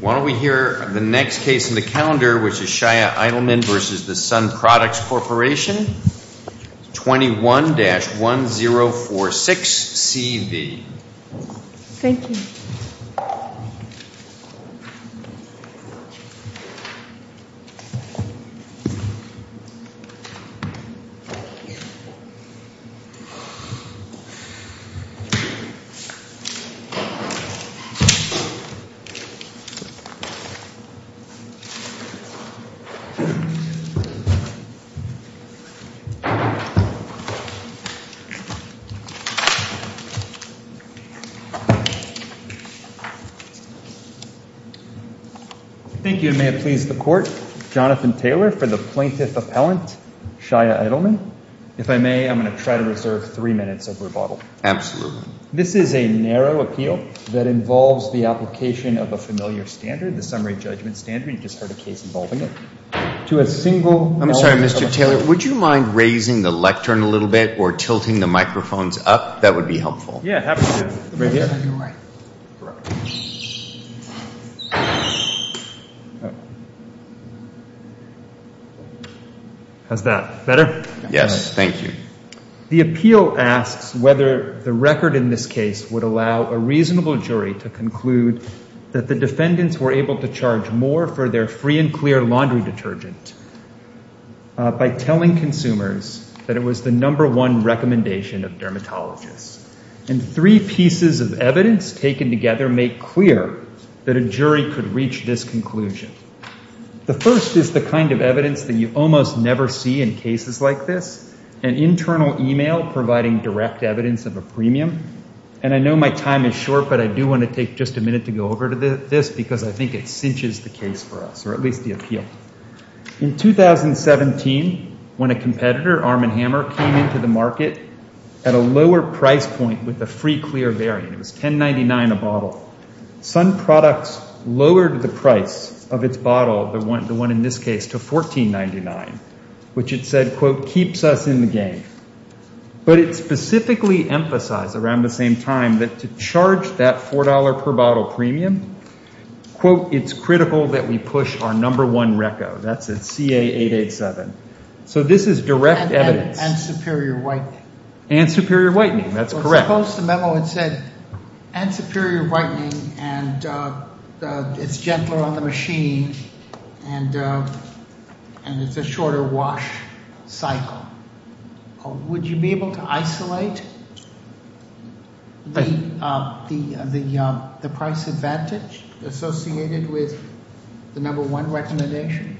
Why don't we hear the next case in the calendar, which is Shia Eidelman v. The Sun Products Corporation, 21-1046-CV. Thank you. And may it please the Court, Jonathan Taylor for the Plaintiff Appellant, Shia Eidelman. If I may, I'm going to try to reserve three minutes of rebuttal. Absolutely. This is a narrow appeal that involves the application of a familiar standard, the summary judgment standard. You just heard a case involving it. To a single... I'm sorry, Mr. Taylor, would you mind raising the lectern a little bit or tilting the microphones up? That would be helpful. Yeah, absolutely. Right here. How's that? Better? Yes. Thank you. The appeal asks whether the record in this case would allow a reasonable jury to conclude that the defendants were able to charge more for their free and clear laundry detergent by telling consumers that it was the number one recommendation of dermatologists. And three pieces of evidence taken together make clear that a jury could reach this conclusion. The first is the kind of evidence that you almost never see in cases like this, an internal email providing direct evidence of a premium. And I know my time is short, but I do want to take just a minute to go over to this because I think it cinches the case for us, or at least the appeal. In 2017, when a competitor, Arm & Hammer, came into the market at a lower price point with the free clear variant, it was $10.99 a bottle, Sun Products lowered the price of its bottle, the one in this case, to $14.99, which it said, quote, keeps us in the game. But it specifically emphasized around the same time that to charge that $4 per bottle premium, quote, it's critical that we push our number one RECCO. That's a CA887. So this is direct evidence. And superior whitening. And superior whitening, that's correct. Well, suppose the memo had said, and superior whitening, and it's gentler on the machine, and it's a shorter wash cycle. Now, would you be able to isolate the price advantage associated with the number one recommendation?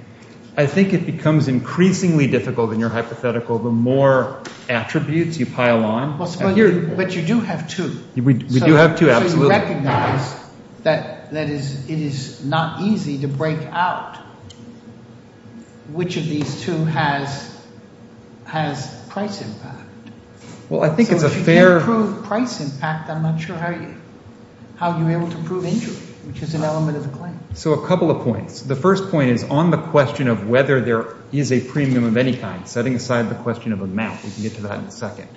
I think it becomes increasingly difficult in your hypothetical, the more attributes you pile on. But you do have two. We do have two, absolutely. I'm not sure you recognize that it is not easy to break out which of these two has price impact. Well, I think it's a fair- So if you can't prove price impact, I'm not sure how you're able to prove injury, which is an element of the claim. So a couple of points. The first point is on the question of whether there is a premium of any kind, setting aside the question of amount. We can get to that in a second.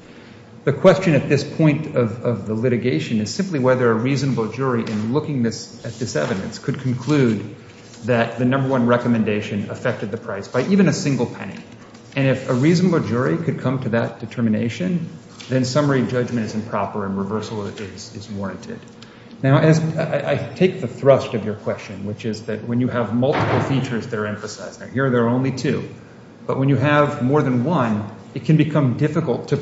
The question at this point of the litigation is simply whether a reasonable jury in looking at this evidence could conclude that the number one recommendation affected the price by even a single penny. And if a reasonable jury could come to that determination, then summary judgment is improper and reversal is warranted. Now, as I take the thrust of your question, which is that when you have multiple features that are emphasized, and here there are only two, but when you have more than one, it can become difficult to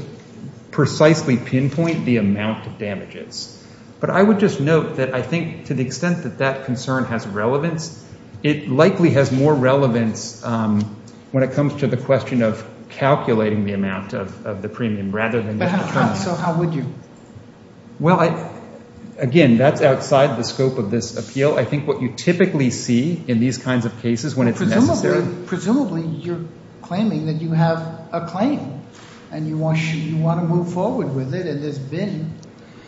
precisely pinpoint the amount of damages. But I would just note that I think to the extent that that concern has relevance, it likely has more relevance when it comes to the question of calculating the amount of the premium rather than- But how would you? Well, again, that's outside the scope of this appeal. I think what you typically see in these kinds of cases when it's necessary- And you want to move forward with it, and there's been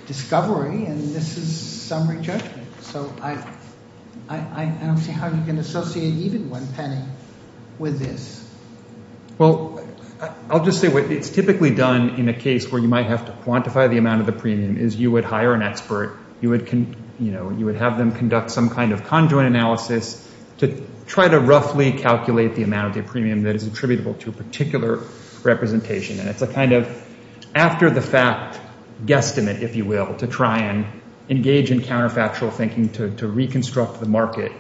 discovery, and this is summary judgment. So I don't see how you can associate even one penny with this. Well, I'll just say what it's typically done in a case where you might have to quantify the amount of the premium is you would hire an expert. You would have them conduct some kind of conjoint analysis to try to roughly calculate the amount of premium that is attributable to a particular representation, and it's a kind of after-the-fact guesstimate, if you will, to try and engage in counterfactual thinking to reconstruct the market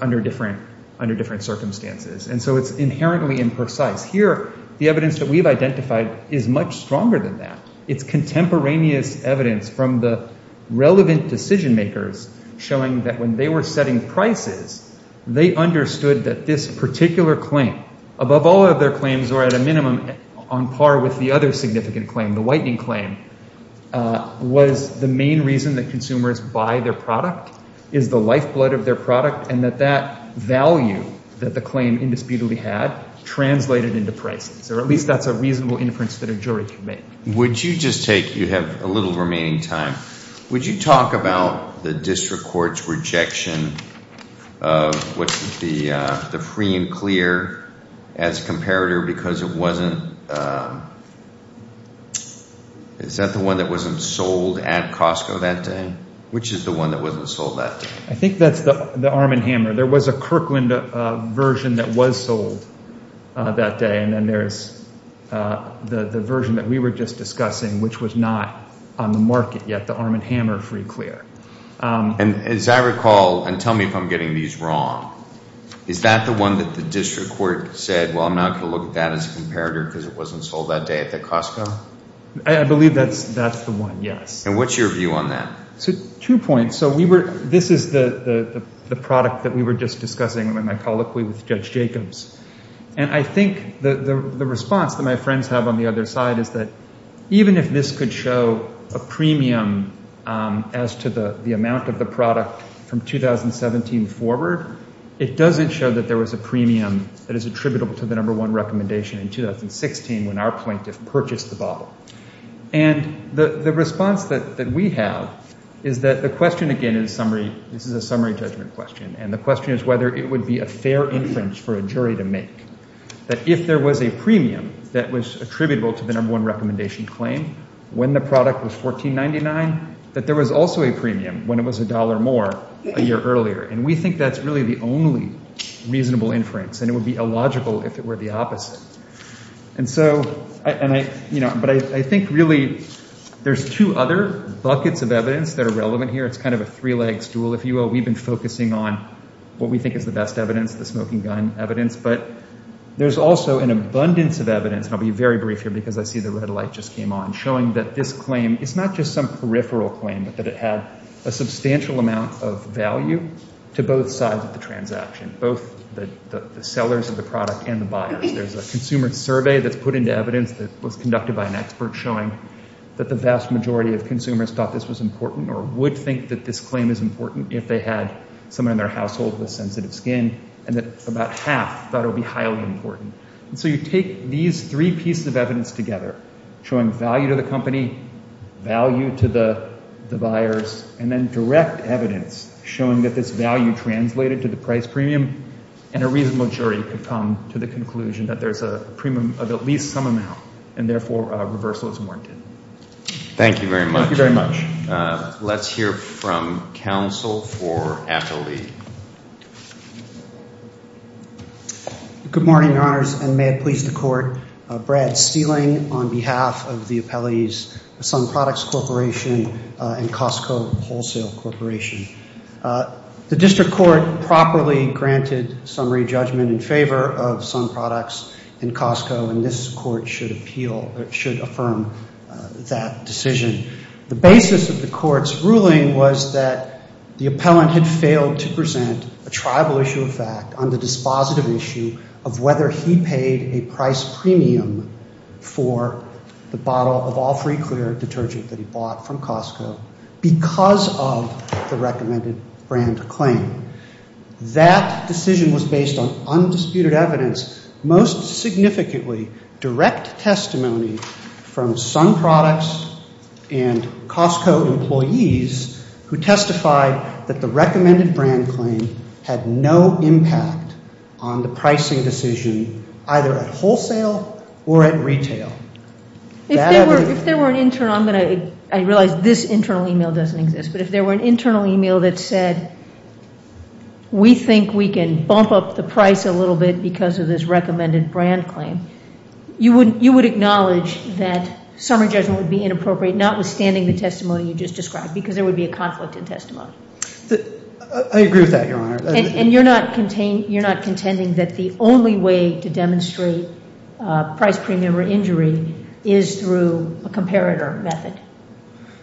under different circumstances. And so it's inherently imprecise. Here the evidence that we've identified is much stronger than that. It's contemporaneous evidence from the relevant decision makers showing that when they were setting prices, they understood that this particular claim, above all other claims or at a minimum on par with the other significant claim, the whitening claim, was the main reason that consumers buy their product, is the lifeblood of their product, and that that value that the claim indisputably had translated into prices, or at least that's a reasonable inference that a jury can make. Would you just take- You have a little remaining time. Would you talk about the district court's rejection of the free and clear as comparator because it wasn't- Is that the one that wasn't sold at Costco that day? Which is the one that wasn't sold that day? I think that's the arm and hammer. There was a Kirkland version that was sold that day, and then there's the version that we were just discussing, which was not on the market yet, the arm and hammer free clear. As I recall, and tell me if I'm getting these wrong, is that the one that the district court said, well, I'm not going to look at that as a comparator because it wasn't sold that day at the Costco? I believe that's the one, yes. What's your view on that? Two points. This is the product that we were just discussing in my colloquy with Judge Jacobs. I think the response that my friends have on the other side is that even if this could show a premium as to the amount of the product from 2017 forward, it doesn't show that there was a premium that is attributable to the number one recommendation in 2016 when our plaintiff purchased the bottle. The response that we have is that the question, again, in summary, this is a summary judgment question, and the question is whether it would be a fair inference for a jury to make. If there was a premium that was attributable to the number one recommendation claim when the product was $14.99, that there was also a premium when it was a dollar more a year earlier. We think that's really the only reasonable inference, and it would be illogical if it were the opposite. I think really there's two other buckets of evidence that are relevant here. It's kind of a three-leg stool, if you will. We've been focusing on what we think is the best evidence, the smoking gun evidence, but there's also an abundance of evidence, and I'll be very brief here because I see the red light just came on, showing that this claim is not just some peripheral claim, but that it had a substantial amount of value to both sides of the transaction, both the sellers of the product and the buyers. There's a consumer survey that's put into evidence that was conducted by an expert showing that the vast majority of consumers thought this was important or would think that this had someone in their household with sensitive skin, and that about half thought it would be highly important. And so you take these three pieces of evidence together, showing value to the company, value to the buyers, and then direct evidence showing that this value translated to the price premium, and a reasonable jury could come to the conclusion that there's a premium of at least some amount, and therefore, reversal is warranted. Thank you very much. Thank you very much. Let's hear from counsel for appellee. Good morning, Your Honors, and may it please the Court, Brad Steling on behalf of the Appellees Sun Products Corporation and Costco Wholesale Corporation. The District Court properly granted summary judgment in favor of Sun Products and Costco, and this Court should appeal or should affirm that decision. The basis of the Court's ruling was that the appellant had failed to present a tribal issue of fact on the dispositive issue of whether he paid a price premium for the bottle of all-free clear detergent that he bought from Costco because of the recommended brand claim. That decision was based on undisputed evidence, most significantly direct testimony from Sun Products and Costco employees who testified that the recommended brand claim had no impact on the pricing decision, either at wholesale or at retail. If there were an internal, I'm going to, I realize this internal email doesn't exist, but if there were an internal email that said, we think we can bump up the price a little bit because of this recommended brand claim, you would acknowledge that summary judgment would be inappropriate, notwithstanding the testimony you just described, because there would be a conflict in testimony. I agree with that, Your Honor. And you're not contending that the only way to demonstrate price premium or injury is through a comparator method?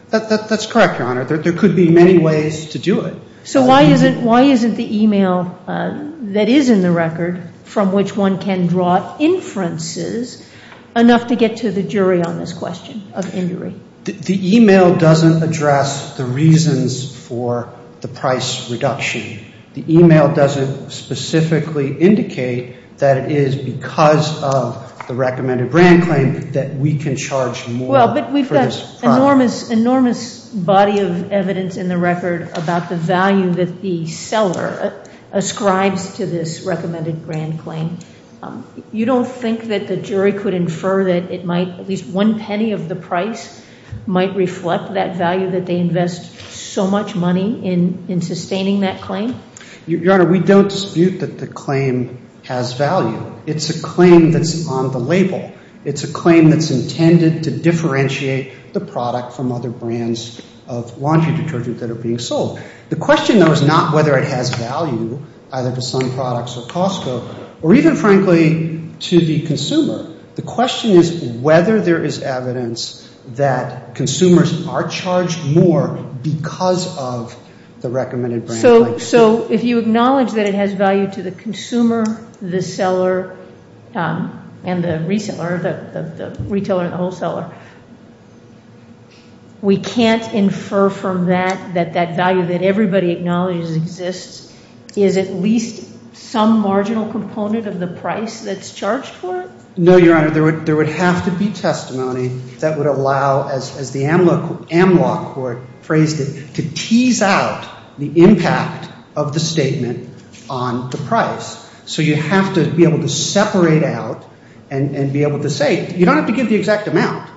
That's correct, Your Honor. There could be many ways to do it. So why isn't the email that is in the record, from which one can draw inferences, enough to get to the jury on this question of injury? The email doesn't address the reasons for the price reduction. The email doesn't specifically indicate that it is because of the recommended brand claim that we can charge more for this product. There's an enormous body of evidence in the record about the value that the seller ascribes to this recommended brand claim. You don't think that the jury could infer that it might, at least one penny of the price might reflect that value that they invest so much money in sustaining that claim? Your Honor, we don't dispute that the claim has value. It's a claim that's on the label. It's a claim that's intended to differentiate the product from other brands of laundry detergent that are being sold. The question, though, is not whether it has value, either to some products or Costco, or even, frankly, to the consumer. The question is whether there is evidence that consumers are charged more because of the recommended brand claim. If you acknowledge that it has value to the consumer, the seller, and the retailer, the wholesaler, we can't infer from that that that value that everybody acknowledges exists is at least some marginal component of the price that's charged for it? No, Your Honor. There would have to be testimony that would allow, as the AMLOC court phrased it, to tease out the impact of the statement on the price. So you have to be able to separate out and be able to say, you don't have to give the exact amount,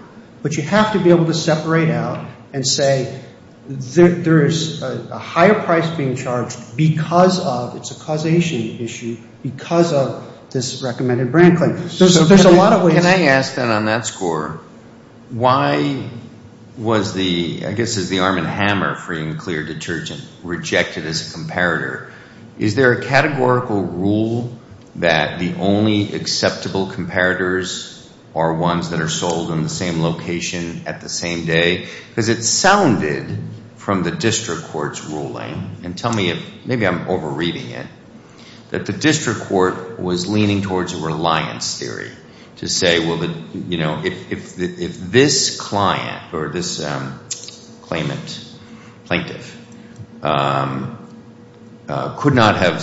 but you have to be able to separate out and say there is a higher price being charged because of, it's a causation issue, because of this recommended brand claim. So there's a lot of ways. Can I ask, then, on that score, why was the, I guess, is the Arm and Hammer free and clear detergent rejected as a comparator? Is there a categorical rule that the only acceptable comparators are ones that are sold in the same location at the same day? Because it sounded, from the district court's ruling, and tell me if, maybe I'm over-reading it, that the district court was leaning towards a reliance theory to say, well, if this client or this claimant, plaintiff, could not have,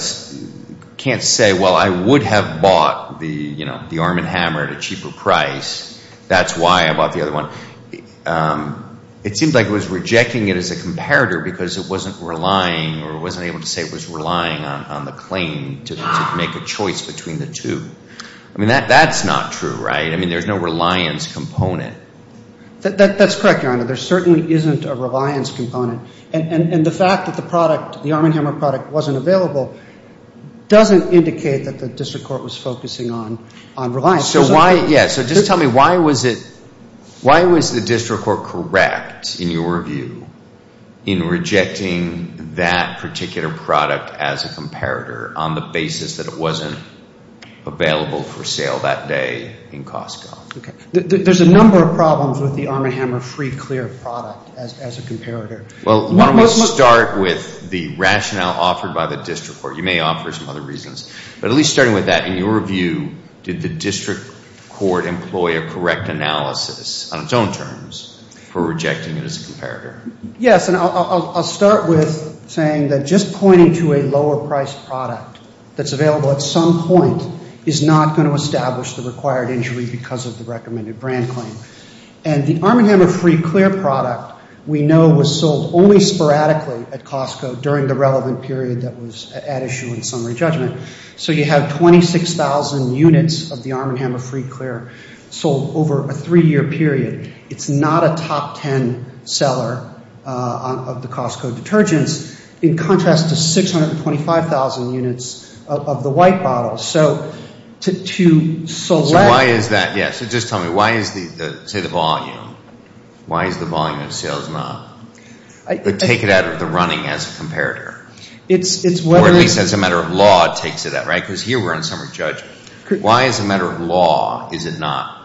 can't say, well, I would have bought the Arm and Hammer at a cheaper price, that's why I bought the other one. It seemed like it was rejecting it as a comparator because it wasn't relying or wasn't able to say it was relying on the claim to make a choice between the two. I mean, that's not true, right? I mean, there's no reliance component. That's correct, Your Honor. There certainly isn't a reliance component. And the fact that the product, the Arm and Hammer product, wasn't available doesn't indicate that the district court was focusing on reliance. So why, yeah, so just tell me, why was it, why was the district court correct, in your view, in rejecting the product as a comparator on the basis that it wasn't available for sale that day in Costco? There's a number of problems with the Arm and Hammer free, clear product as a comparator. Well, why don't we start with the rationale offered by the district court. You may offer some other reasons, but at least starting with that, in your view, did the district court employ a correct analysis, on its own terms, for rejecting it as a comparator? Yes, and I'll start with saying that just pointing to a lower priced product that's available at some point is not going to establish the required injury because of the recommended brand claim. And the Arm and Hammer free, clear product, we know, was sold only sporadically at Costco during the relevant period that was at issue in summary judgment. So you have 26,000 units of the Arm and Hammer free, clear sold over a three-year period. It's not a top 10 seller of the Costco detergents, in contrast to 625,000 units of the white bottle. So to select... So why is that? Yes. So just tell me, why is the, say, the volume, why is the volume of sales not, but take it out of the running as a comparator? It's whether... Or at least as a matter of law, it takes it out, right? Because here we're in summary judgment. Why as a matter of law is it not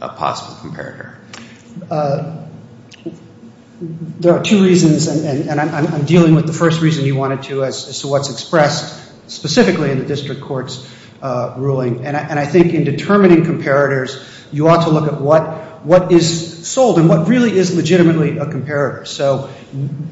a possible comparator? There are two reasons, and I'm dealing with the first reason you wanted to, as to what's expressed specifically in the district court's ruling. And I think in determining comparators, you ought to look at what is sold and what really is legitimately a comparator. So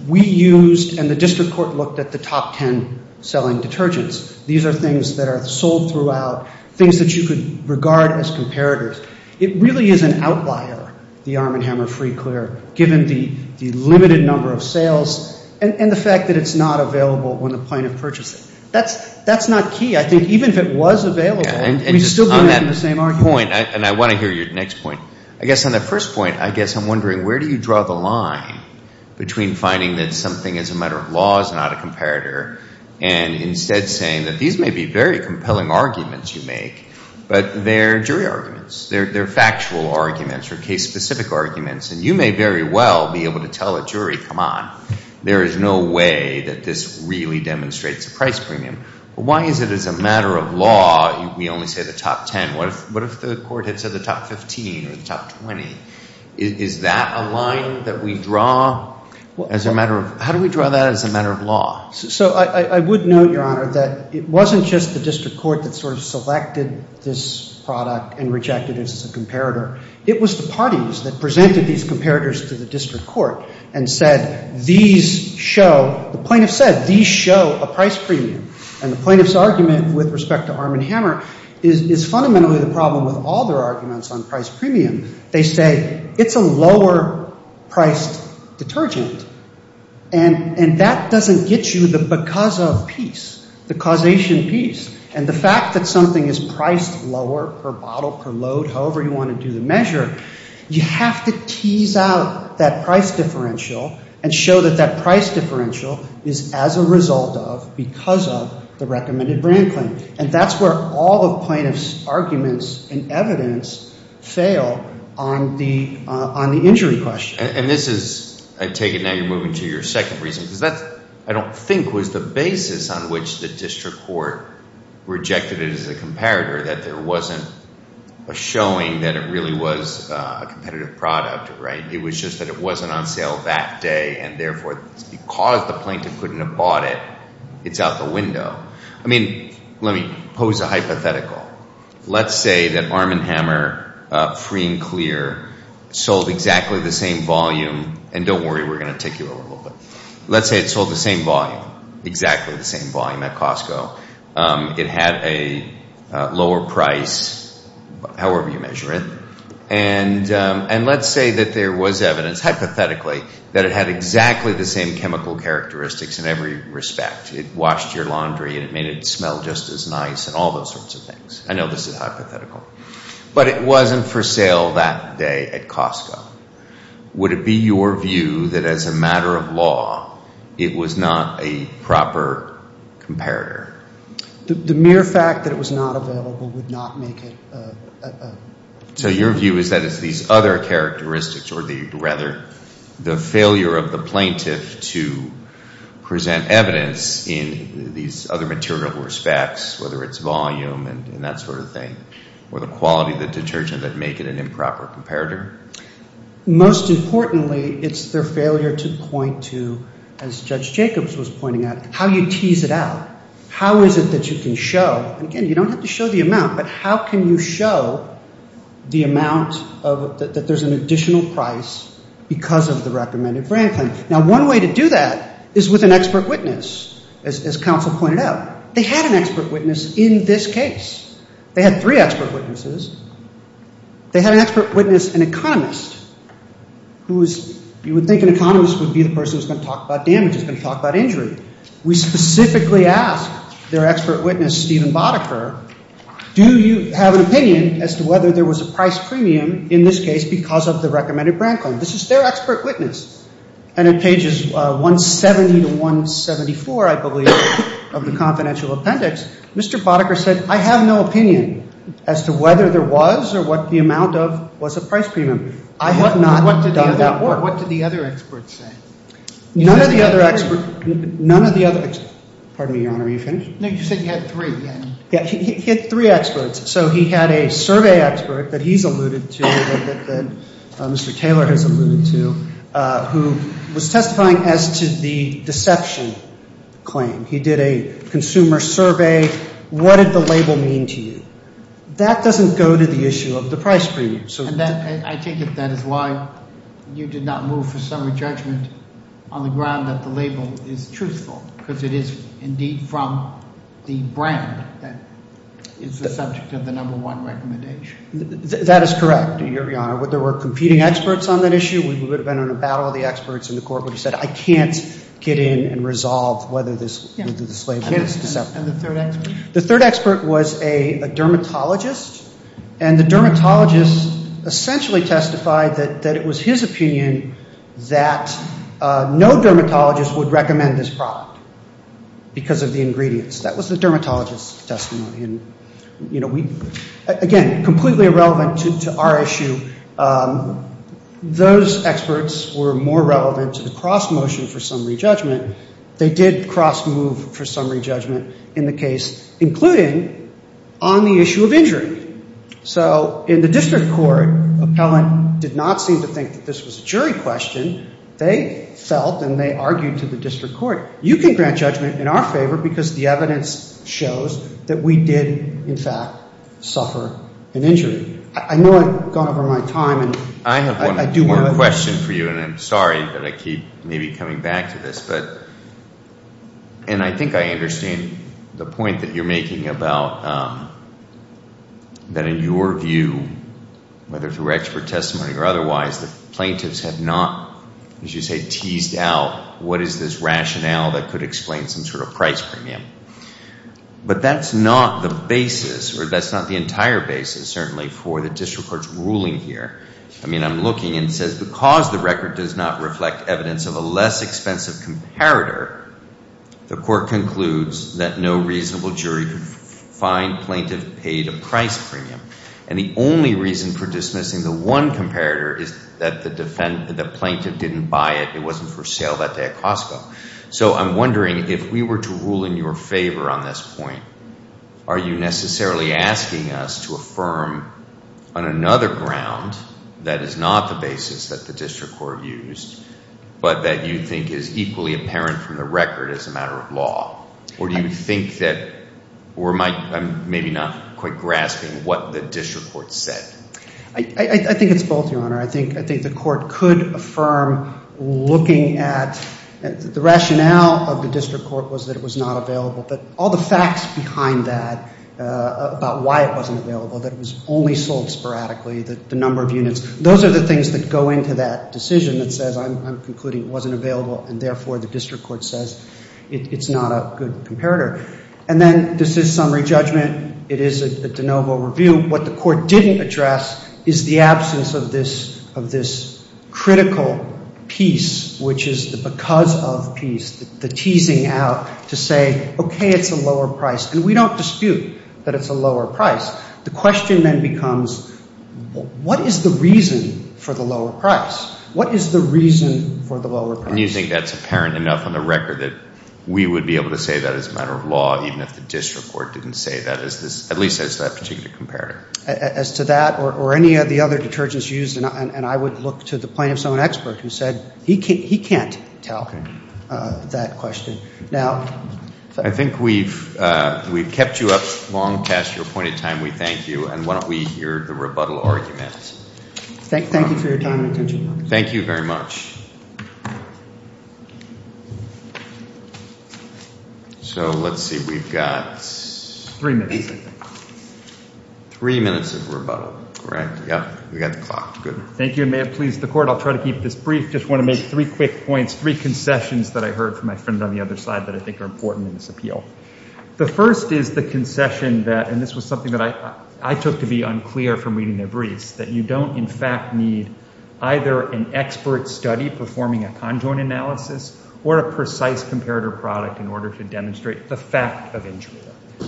we used, and the district court looked at the top 10 selling detergents. These are things that are sold throughout, things that you could regard as comparators. It really is an outlier, the Arm and Hammer Free Clear, given the limited number of sales and the fact that it's not available when the plaintiff purchased it. That's not key. I think even if it was available, we'd still be making the same argument. And just on that point, and I want to hear your next point, I guess on that first point, I guess I'm wondering, where do you draw the line between finding that something as a matter of law is not a comparator, and instead saying that these may be very compelling arguments you make, but they're jury arguments. They're factual arguments or case-specific arguments, and you may very well be able to tell a jury, come on, there is no way that this really demonstrates a price premium. Why is it as a matter of law, we only say the top 10, what if the court had said the top 15 or the top 20? Is that a line that we draw? As a matter of, how do we draw that as a matter of law? So I would note, Your Honor, that it wasn't just the district court that sort of selected this product and rejected it as a comparator. It was the parties that presented these comparators to the district court and said, these show, the plaintiff said, these show a price premium. And the plaintiff's argument with respect to Arm and Hammer is fundamentally the problem with all their arguments on price premium. They say, it's a lower-priced detergent, and that doesn't get you the because of piece, the causation piece. And the fact that something is priced lower per bottle, per load, however you want to do the measure, you have to tease out that price differential and show that that price differential is as a result of, because of, the recommended brand claim. And that's where all the plaintiff's arguments and evidence fail on the injury question. And this is, I take it now you're moving to your second reason, because that, I don't think, was the basis on which the district court rejected it as a comparator, that there wasn't a showing that it really was a competitive product, right? It was just that it wasn't on sale that day, and therefore, because the plaintiff couldn't have bought it, it's out the window. I mean, let me pose a hypothetical. Let's say that Arm and Hammer, free and clear, sold exactly the same volume. And don't worry, we're going to take you a little bit. Let's say it sold the same volume, exactly the same volume at Costco. It had a lower price, however you measure it. And let's say that there was evidence, hypothetically, that it had exactly the same chemical characteristics in every respect. It washed your laundry, and it made it smell just as nice, and all those sorts of things. I know this is hypothetical. But it wasn't for sale that day at Costco. Would it be your view that as a matter of law, it was not a proper comparator? The mere fact that it was not available would not make it a... So your view is that it's these other characteristics, or rather, the failure of the plaintiff to present evidence in these other material respects, whether it's volume and that sort of thing, or the quality of the detergent that make it an improper comparator? Most importantly, it's their failure to point to, as Judge Jacobs was pointing out, how you tease it out. How is it that you can show, and again, you don't have to show the amount, but how can you show the amount that there's an additional price because of the recommended brand claim? Now, one way to do that is with an expert witness, as counsel pointed out. They had an expert witness in this case. They had three expert witnesses. They had an expert witness, an economist, who is... You would think an economist would be the person who's going to talk about damages, going to talk about injury. We specifically asked their expert witness, Stephen Bodecker, do you have an opinion as to whether there was a price premium in this case because of the recommended brand claim? This is their expert witness. And in pages 170 to 174, I believe, of the confidential appendix, Mr. Bodecker said, I have no opinion as to whether there was or what the amount of was a price premium. I have not done that work. What did the other experts say? None of the other experts... Pardon me, Your Honor, are you finished? No, you said you had three. Yeah, he had three experts. So he had a survey expert that he's alluded to, that Mr. Taylor has alluded to, who was testifying as to the deception claim. He did a consumer survey. What did the label mean to you? That doesn't go to the issue of the price premium. And I take it that is why you did not move for summary judgment on the ground that the label is truthful because it is indeed from the brand that is the subject of the number one recommendation. That is correct, Your Honor. There were competing experts on that issue. We would have been in a battle of the experts in the court where he said, I can't get in and resolve whether this is a slave case. And the third expert? The third expert was a dermatologist. And the dermatologist essentially testified that it was his opinion that no dermatologist would recommend this product because of the ingredients. That was the dermatologist's testimony. And, you know, we, again, completely irrelevant to our issue. Those experts were more relevant to the cross motion for summary judgment. They did cross move for summary judgment in the case, including on the issue of injury. So in the district court, appellant did not seem to think that this was a jury question. They felt, and they argued to the district court, you can grant judgment in our favor because the evidence shows that we did, in fact, suffer an injury. I know I've gone over my time, and I do want to. I have one more question for you, and I'm sorry that I keep maybe coming back to this. But, and I think I understand the point that you're making about that in your view, whether through expert testimony or otherwise, the plaintiffs have not, as you say, teased out what is this rationale that could explain some sort of price premium. But that's not the basis, or that's not the entire basis, certainly for the district court's ruling here. I mean, I'm looking, and it says, because the record does not reflect evidence of a less expensive comparator, the court concludes that no reasonable jury could find plaintiff paid a price premium. And the only reason for dismissing the one comparator is that the plaintiff didn't buy it. It wasn't for sale that day at Costco. So I'm wondering, if we were to rule in your favor on this point, are you necessarily asking us to affirm on another ground that is not the basis that the district court used, but that you think is equally apparent from the record as a matter of law? Or do you think that, or am I maybe not quite grasping what the district court said? I think it's both, Your Honor. I think the court could affirm looking at, the rationale of the district court was that it was not available, but all the facts behind that, about why it wasn't available, that it was only sold sporadically, the number of units, those are the things that go into that decision that says I'm concluding it wasn't available and therefore the district court says it's not a good comparator. And then this is summary judgment. It is a de novo review. What the court didn't address is the absence of this critical piece, which is the because of piece, the teasing out to say, okay, it's a lower price. And we don't dispute that it's a lower price. The question then becomes, what is the reason for the lower price? What is the reason for the lower price? And you think that's apparent enough on the record that we would be able to say that as a matter of law, even if the district court didn't say that, at least as that particular comparator? As to that, or any of the other detergents used, and I would look to the plaintiff's own expert who said he can't tell that question. Now, I think we've kept you up long past your appointed time. We thank you. And why don't we hear the rebuttal argument. Thank you for your time and attention. Thank you very much. So, let's see. We've got three minutes of rebuttal, correct? Yeah, we got the clock. Good. Thank you, and may it please the court, I'll try to keep this brief. Just want to make three quick points, three concessions that I heard from my friend on the other side that I think are important in this appeal. The first is the concession that, and this was something that I took to be unclear from reading the briefs, that you don't in fact need either an expert study performing a conjoined analysis or a precise comparator product in order to demonstrate the fact of injury,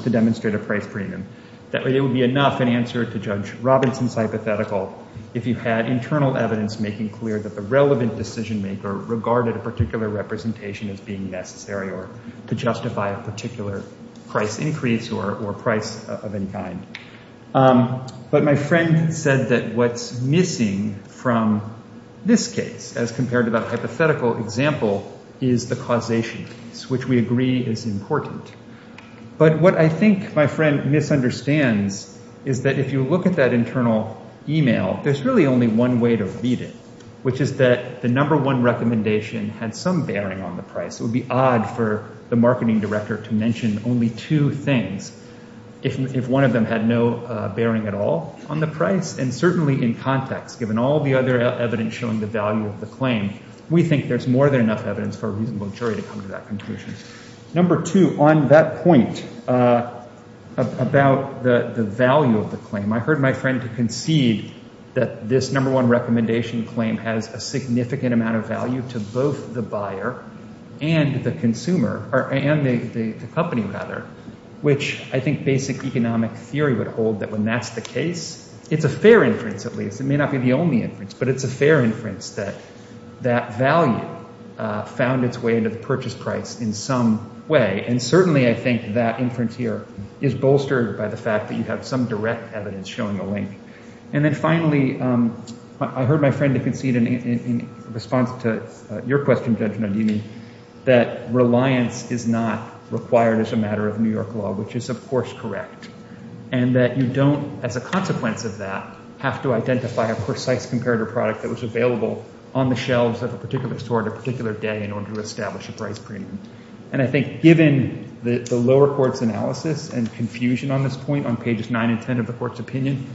to demonstrate a price premium. That way it would be enough an answer to Judge Robinson's hypothetical if you had internal evidence making clear that the relevant decision maker regarded a particular representation as being necessary or to justify a particular price increase or price of any kind. But my friend said that what's missing from this case, as compared to that hypothetical example, is the causation, which we agree is important. But what I think my friend misunderstands is that if you look at that internal email, there's really only one way to read it, which is that the number one recommendation had some bearing on the price. It would be odd for the marketing director to mention only two things, if one of them had no bearing at all on the price. And certainly in context, given all the other evidence showing the value of the claim, we think there's more than enough evidence for a reasonable jury to come to that conclusion. Number two, on that point about the value of the claim, I heard my friend concede that this number one recommendation claim has a significant amount of value to both the buyer and the consumer, and the company rather, which I think basic economic theory would hold that when that's the case, it's a fair inference at least, it may not be the only inference, but it's a fair inference that that value found its way into the purchase price in some way. And certainly I think that inference here is bolstered by the fact that you have some direct evidence showing a link. And then finally, I heard my friend concede in response to your question, Judge Nunez, that reliance is not required as a matter of New York law, which is of course correct. And that you don't, as a consequence of that, have to identify a precise comparative product that was available on the shelves of a particular store at a particular day in order to establish a price premium. And I think given the lower court's analysis and confusion on this point on pages nine and ten of the court's opinion,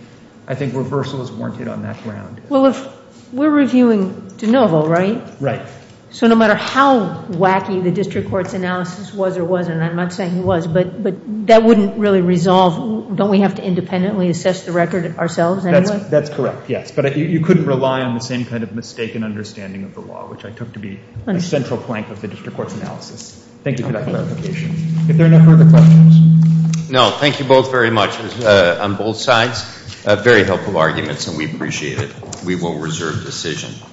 I think reversal is warranted on that ground. Well, if we're reviewing de novo, right? Right. So no matter how wacky the district court's analysis was or wasn't, and I'm not saying it was, but that wouldn't really resolve, don't we have to independently assess the record ourselves anyway? That's correct, yes. But you couldn't rely on the same kind of mistaken understanding of the law, which I took to be the central plank of the district court's analysis. Thank you for that clarification. If there are no further questions. No, thank you both very much on both sides. Very helpful arguments and we appreciate it. We will reserve decision.